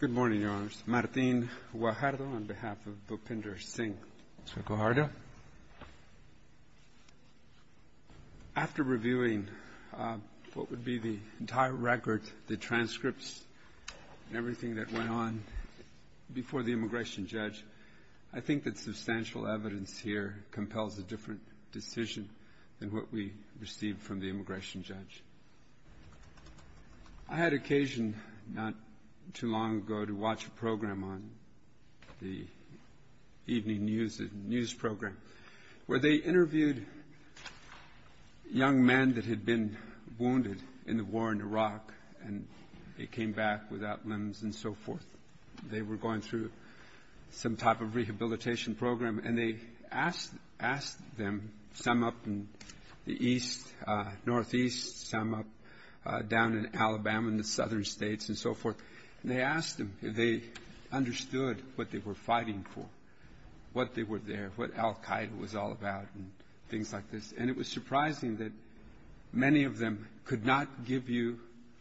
Good morning, Your Honors. Martin Guajardo on behalf of Bhupinder Singh. Mr. Guajardo. After reviewing what would be the entire record, the transcripts and everything that went on before the immigration judge, I think that substantial evidence here compels a different decision than what we received from the immigration judge. I had occasion not too long ago to watch a program on the evening news program, where they interviewed young men that had been wounded in the war in Iraq and they came back without limbs and so forth. They were going through some type of rehabilitation program, and they asked them, some up in the east, northeast, some up down in Alabama in the southern states and so forth, and they asked them if they understood what they were fighting for, what they were there, what Al-Qaeda was all about and things like this. And it was surprising that many of them could not give you,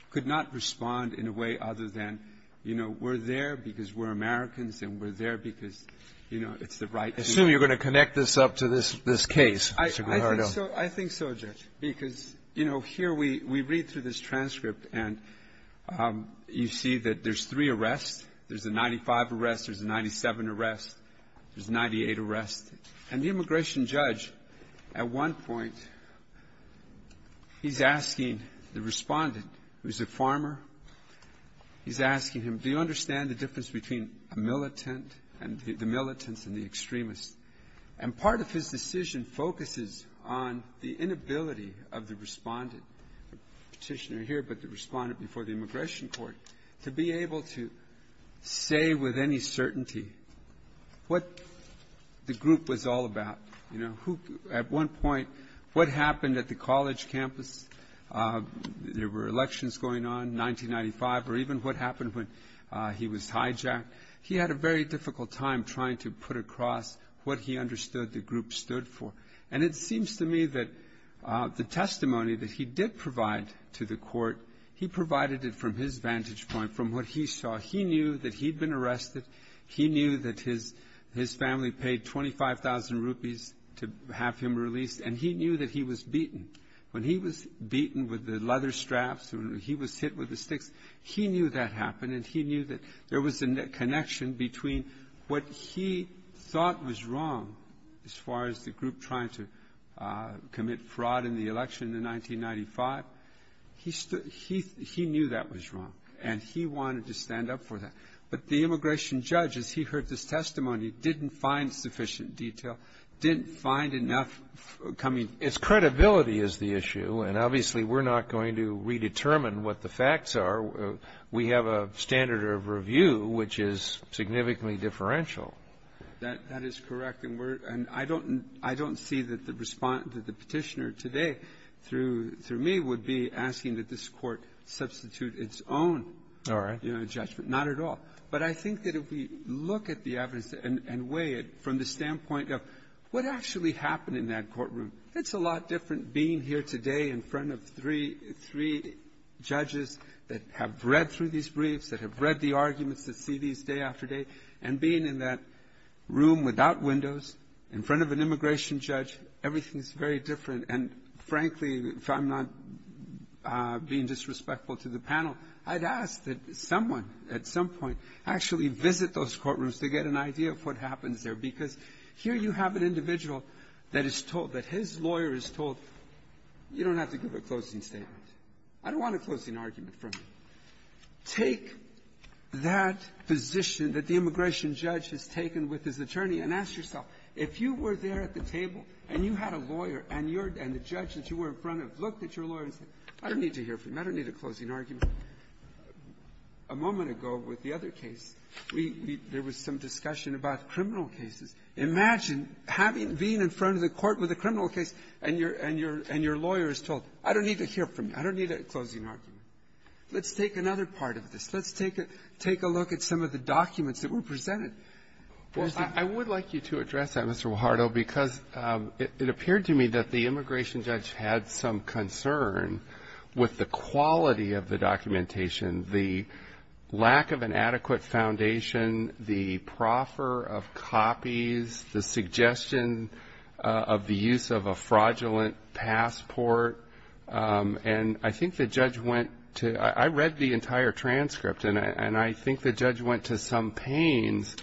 could not respond in a way other than, you know, we're there because we're Americans and we're there because, you know, it's the right thing. I assume you're going to connect this up to this case, Mr. Guajardo. I think so, Judge, because, you know, here we read through this transcript and you see that there's three arrests. There's a 95 arrest. There's a 97 arrest. There's a 98 arrest. And the immigration judge, at one point, he's asking the Respondent, who's a farmer, he's asking him, do you understand the difference between a militant and the militants and the extremists? And part of his decision focuses on the inability of the Respondent, the Petitioner here, but the Respondent before the Immigration Court, to be able to say with any certainty what the group was all about. You know, at one point, what happened at the college campus? There were elections going on, 1995, or even what happened when he was hijacked. He had a very difficult time trying to put across what he understood the group stood for. And it seems to me that the testimony that he did provide to the court, he provided it from his vantage point, from what he saw. He knew that he'd been arrested. He knew that his family paid 25,000 rupees to have him released. And he knew that he was beaten. When he was beaten with the leather straps, when he was hit with the sticks, he knew that happened, and he knew that there was a connection between what he thought was wrong, as far as the group trying to commit fraud in the election in 1995. He knew that was wrong, and he wanted to stand up for that. But the immigration judge, as he heard this testimony, didn't find sufficient detail, didn't find enough coming. Breyer. Its credibility is the issue. And obviously, we're not going to redetermine what the facts are. We have a standard of review which is significantly differential. That is correct. And we're — and I don't — I don't see that the — that the Petitioner today, through me, would be asking that this Court substitute its own judgment. Not at all. But I think that if we look at the evidence and weigh it from the standpoint of what actually happened in that courtroom, it's a lot different being here today in front of three — three judges that have read through these briefs, that have read the arguments, that see these day after day, and being in that room without windows, in front of an immigration judge, everything is very different. And, frankly, if I'm not being disrespectful to the panel, I'd ask that someone at some point actually visit those courtrooms to get an idea of what happens there, because here you have an individual that is told, that his lawyer is told, you don't have to give a closing statement. I don't want a closing argument from you. Take that position that the immigration judge has taken with his attorney and ask yourself, if you were there at the table and you had a lawyer and you're — and the judge that you were in front of looked at your lawyer and said, I don't need to hear from you. I don't need a closing argument. A moment ago with the other case, we — there was some discussion about criminal cases. Imagine having — being in front of the court with a criminal case and your lawyer is told, I don't need to hear from you. I don't need a closing argument. Let's take another part of this. Let's take a look at some of the documents that were presented. Breyer. Well, I would like you to address that, Mr. Guajardo, because it appeared to me that the immigration judge had some concern with the quality of the documentation, the lack of an adequate foundation, the proffer of copies, the suggestion of the use of a fraudulent passport. And I think the judge went to — I read the entire transcript, and I think the judge went to some pains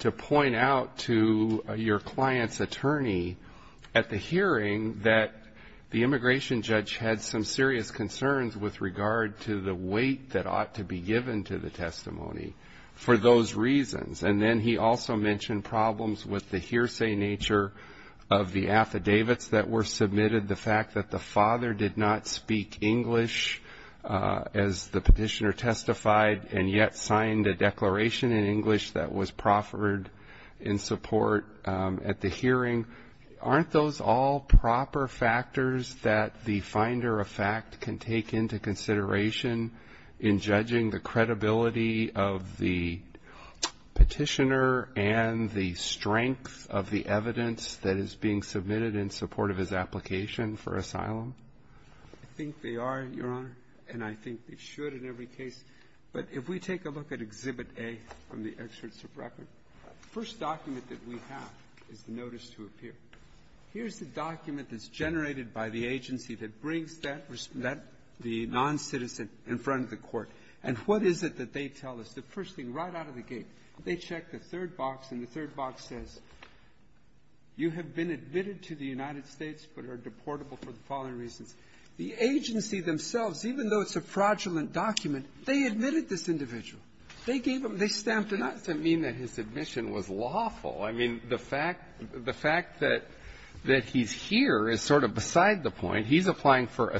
to point out to your client's attorney at the hearing that the immigration judge had some serious concerns with regard to the weight that ought to be given to the testimony for those reasons. And then he also mentioned problems with the hearsay nature of the affidavits that were submitted, the fact that the father did not speak English, as the petitioner testified, and yet signed a declaration in English that was proffered in support at the hearing. Aren't those all proper factors that the finder of fact can take into consideration in judging the credibility of the petitioner and the strength of the evidence that is being submitted in support of his application for asylum? I think they are, Your Honor, and I think they should in every case. But if we take a look at Exhibit A from the excerpts of record, the first document that we have is the notice to appear. Here's the document that's generated by the agency that brings that, the noncitizen, in front of the court. And what is it that they tell us? The first thing, right out of the gate, they check the third box, and the third box says, you have been admitted to the United States but are deportable for the following reasons. The agency themselves, even though it's a fraudulent document, they admitted this individual. They gave him the stamp to not to mean that his admission was lawful. I mean, the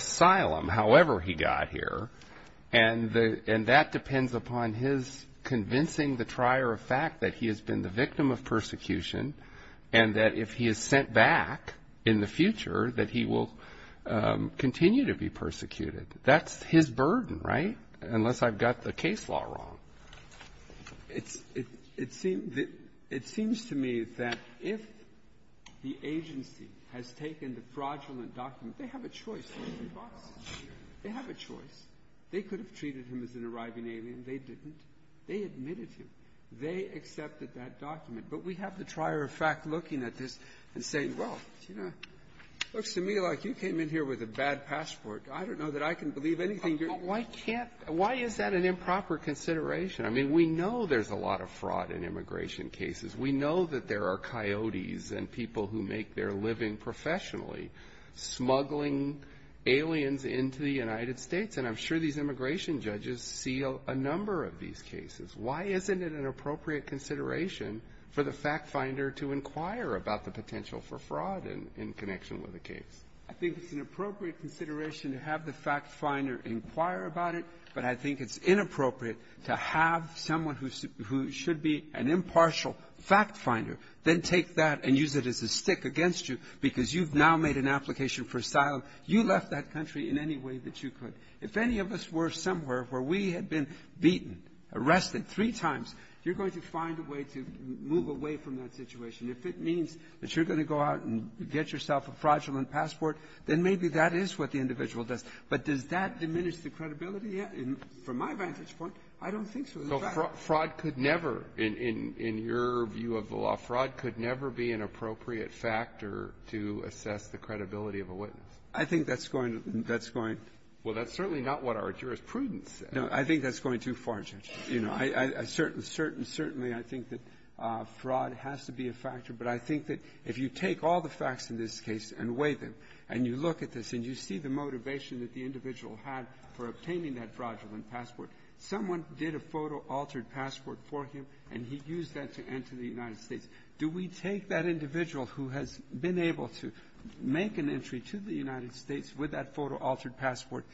asylum, however he got here, and that depends upon his convincing the trier of fact that he has been the victim of persecution and that if he is sent back in the future, that he will continue to be persecuted. That's his burden, right? Unless I've got the case law wrong. It seems to me that if the agency has taken the fraudulent document, they have a choice, they have a choice. They could have treated him as an arriving alien. They didn't. They admitted him. They accepted that document. But we have the trier of fact looking at this and saying, well, you know, it looks to me like you came in here with a bad passport. I don't know that I can believe anything you're saying. But why can't you? Why is that an improper consideration? I mean, we know there's a lot of fraud in immigration cases. We know that there are coyotes and people who make their living professionally smuggling aliens into the United States, and I'm sure these immigration judges see a number of these cases. Why isn't it an appropriate consideration for the fact finder to inquire about the potential for fraud in connection with the case? I think it's an appropriate consideration to have the fact finder inquire about it, but I think it's inappropriate to have someone who should be an impartial fact finder then take that and use it as a stick against you because you've now made an application for asylum. You left that country in any way that you could. If any of us were somewhere where we had been beaten, arrested three times, you're going to find a way to move away from that situation. If it means that you're going to go out and get yourself a fraudulent passport, then maybe that is what the individual does. But does that diminish the credibility? From my vantage point, I don't think so. So fraud could never, in your view of the law, fraud could never be an appropriate factor to assess the credibility of a witness. I think that's going to be the next point. Well, that's certainly not what our jurisprudence says. No. I think that's going too far, Judge. You know, I certainly, certainly, certainly I think that fraud has to be a factor, but I think that if you take all the facts in this case and weigh them, and you look at this and you see the motivation that the individual had for obtaining that fraudulent passport, someone did a photo-altered passport for him, and he used that to enter the United States. Do we take that individual who has been able to make an entry to the United States with that photo-altered passport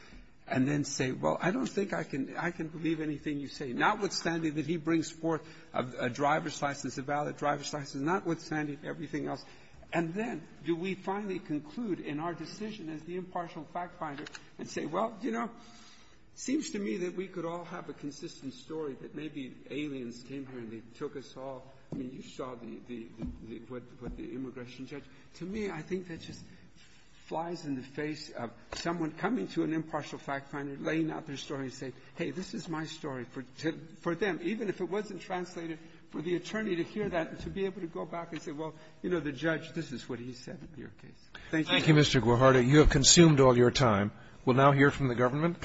and then say, well, I don't think I can believe anything you say, notwithstanding that he brings forth a driver's license, a valid driver's license, notwithstanding everything else, and then do we finally conclude in our decision as the impartial fact-finder and say, well, you know, seems to me that we could all have a consistent story that maybe aliens came here and they took us all and you saw the immigration judge. To me, I think that just flies in the face of someone coming to an impartial fact-finder, laying out their story and saying, hey, this is my story for them, even if it wasn't translated, for the attorney to hear that and to be able to go back and say, well, you know, the judge, this is what he said in your case. Thank you. Roberts. Thank you, Mr. Guajardo. You have consumed all your time. We'll now hear from the government.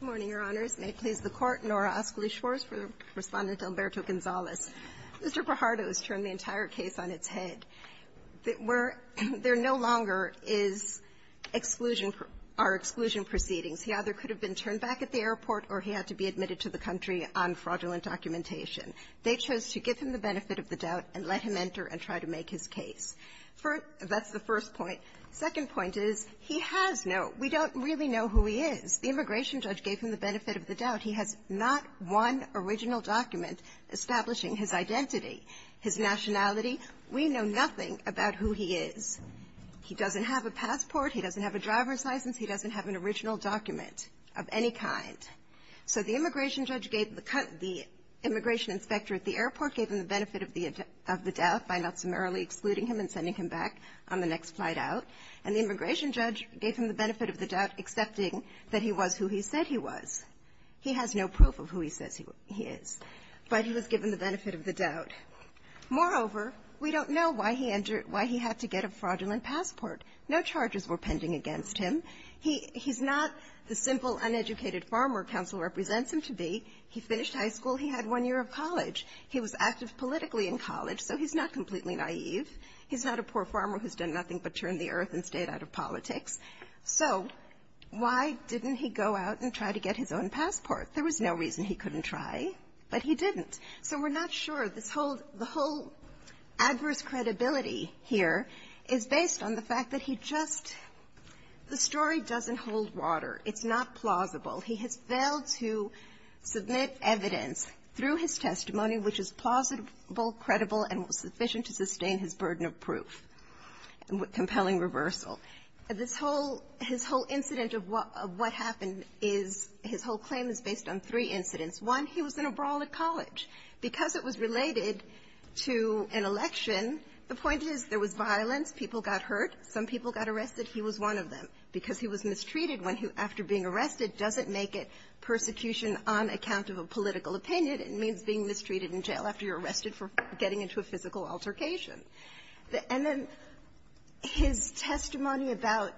Good morning, Your Honors. May it please the Court. Nora Ascoli-Schwartz for Respondent Alberto Gonzalez. Mr. Guajardo has turned the entire case on its head. There no longer is exclusion or exclusion proceedings. He either could have been turned back at the airport or he had to be admitted to the country on fraudulent documentation. They chose to give him the benefit of the doubt and let him enter and try to make his case. That's the first point. The second point is he has no we don't really know who he is. The immigration judge gave him the benefit of the doubt. He has not one original document establishing his identity, his nationality. We know nothing about who he is. He doesn't have a passport. He doesn't have a driver's license. He doesn't have an original document of any kind. So the immigration judge gave the the immigration inspector at the airport gave him the benefit of the doubt by not summarily excluding him and sending him back on the next flight out. And the immigration judge gave him the benefit of the doubt, accepting that he was who he said he was. He has no proof of who he says he is. But he was given the benefit of the doubt. Moreover, we don't know why he entered why he had to get a fraudulent passport. No charges were pending against him. He's not the simple uneducated farmer counsel represents him to be. He finished high school. He had one year of college. He was active politically in college. So he's not completely naive. He's not a poor farmer who's done nothing but turn the earth and stayed out of politics. So why didn't he go out and try to get his own passport? There was no reason he couldn't try, but he didn't. So we're not sure. This whole the whole adverse credibility here is based on the fact that he just the story doesn't hold water. It's not plausible. He has failed to submit evidence through his testimony which is plausible, credible, and sufficient to sustain his burden of proof, compelling reversal. This whole his whole incident of what happened is his whole claim is based on three incidents. One, he was in a brawl at college. Because it was related to an election, the point is there was violence. People got hurt. Some people got arrested. He was one of them because he was mistreated when he after being arrested doesn't make it persecution on account of a political opinion. It means being mistreated in jail after you're arrested for getting into a physical altercation. And then his testimony about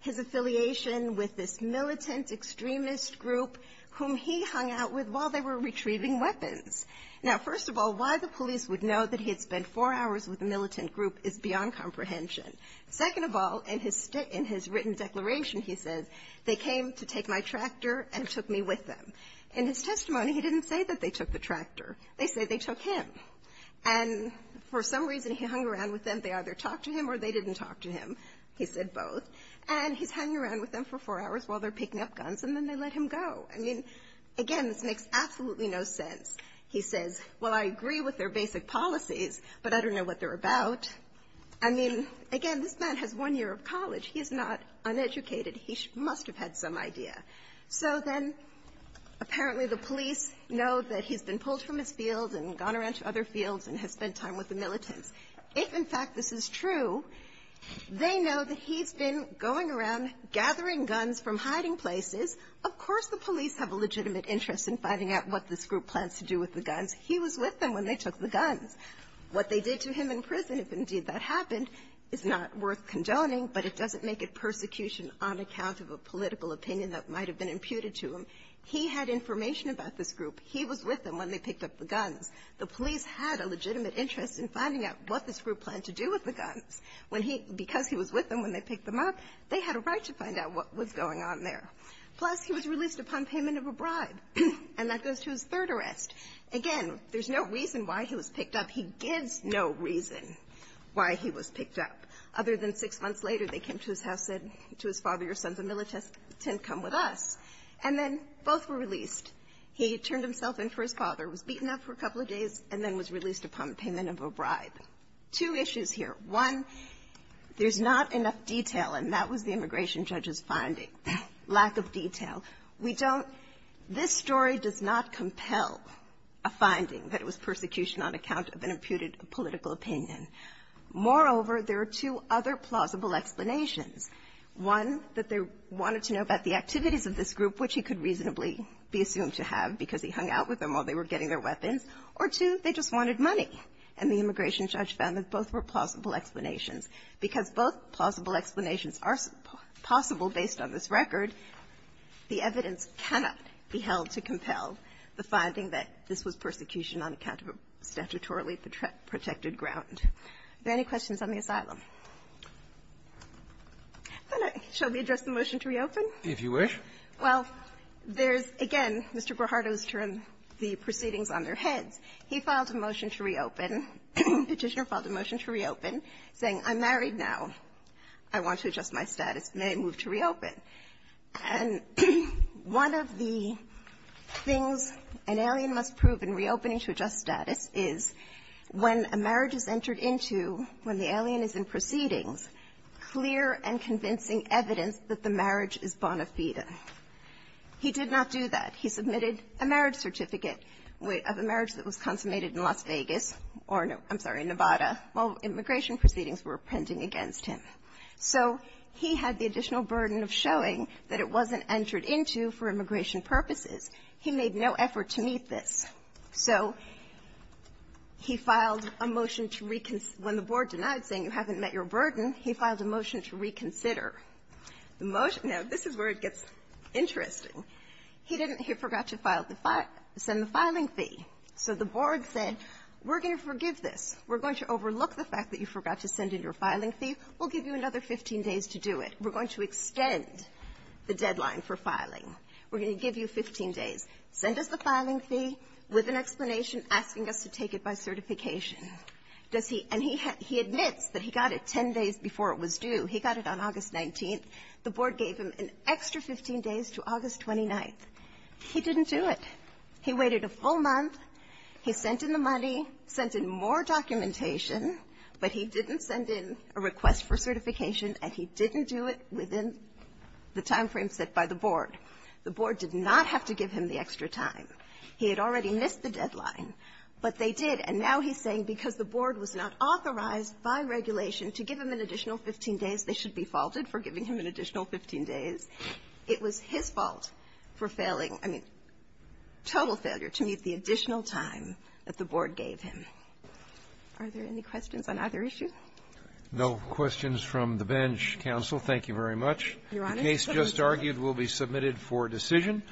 his affiliation with this militant extremist group whom he hung out with while they were retrieving weapons. Now, first of all, why the police would know that he had spent four hours with a militant group is beyond comprehension. Second of all, in his written declaration, he says, they came to take my tractor and took me with them. In his testimony, he didn't say that they took the tractor. They say they took him. And for some reason, he hung around with them. They either talked to him or they didn't talk to him. He said both. And he's hanging around with them for four hours while they're picking up guns and then they let him go. I mean, again, this makes absolutely no sense. He says, well, I agree with their basic policies, but I don't know what they're about. I mean, again, this man has one year of college. He is not uneducated. He must have had some idea. So then apparently the police know that he's been pulled from his field and gone around to other fields and has spent time with the militants. If, in fact, this is true, they know that he's been going around gathering guns from hiding places. Of course the police have a legitimate interest in finding out what this group plans to do with the guns. He was with them when they took the guns. What they did to him in prison, if indeed that happened, is not worth condoning, but it doesn't make it persecution on account of a political opinion that might have been imputed to him. He had information about this group. He was with them when they picked up the guns. The police had a legitimate interest in finding out what this group planned to do with the guns. When he – because he was with them when they picked them up, they had a right to find out what was going on there. Plus, he was released upon payment of a bribe, and that goes to his third arrest. Again, there's no reason why he was picked up. He gives no reason why he was picked up, other than six months later, they came to his house, said to his father, your son's a militant, come with us. And then both were released. He turned himself in for his father, was beaten up for a couple of days, and then was released upon payment of a bribe. Two issues here. One, there's not enough detail, and that was the immigration judge's finding, lack of detail. We don't – this story does not compel a finding that it was persecution on account of an imputed political opinion. Moreover, there are two other plausible explanations. One, that they wanted to know about the activities of this group, which he could reasonably be assumed to have because he hung out with them while they were getting their weapons. Or two, they just wanted money, and the immigration judge found that both were plausible Because both plausible explanations are possible based on this record, the immigration judge's finding. The evidence cannot be held to compel the finding that this was persecution on account of a statutorily protected ground. Are there any questions on the asylum? Shall we address the motion to reopen? If you wish. Well, there's, again, Mr. Guajardo's term, the proceedings on their heads. He filed a motion to reopen, Petitioner filed a motion to reopen, saying, I'm married now. I want to adjust my status. May I move to reopen? And one of the things an alien must prove in reopening to adjust status is when a marriage is entered into, when the alien is in proceedings, clear and convincing evidence that the marriage is bona fide. He did not do that. He submitted a marriage certificate of a marriage that was consummated in Las Vegas or, I'm sorry, Nevada while immigration proceedings were pending against him. So he had the additional burden of showing that it wasn't entered into for immigration purposes. He made no effort to meet this. So he filed a motion to reconc — when the board denied saying you haven't met your burden, he filed a motion to reconsider. The motion — now, this is where it gets interesting. He didn't — he forgot to file the — send the filing fee. So the board said, we're going to forgive this. We're going to overlook the fact that you forgot to send in your filing fee. We'll give you another 15 days to do it. We're going to extend the deadline for filing. We're going to give you 15 days. Send us the filing fee with an explanation asking us to take it by certification. Does he — and he admits that he got it 10 days before it was due. He got it on August 19th. The board gave him an extra 15 days to August 29th. He didn't do it. He waited a full month. He sent in the money, sent in more documentation, but he didn't send in a request for certification, and he didn't do it within the timeframe set by the board. The board did not have to give him the extra time. He had already missed the deadline, but they did. And now he's saying because the board was not authorized by regulation to give him an additional 15 days, they should be faulted for giving him an additional 15 days. It was his fault for failing — I mean, total failure to meet the additional time that the board gave him. Are there any questions on either issue? No questions from the bench. Counsel, thank you very much. The case just argued will be submitted for decision.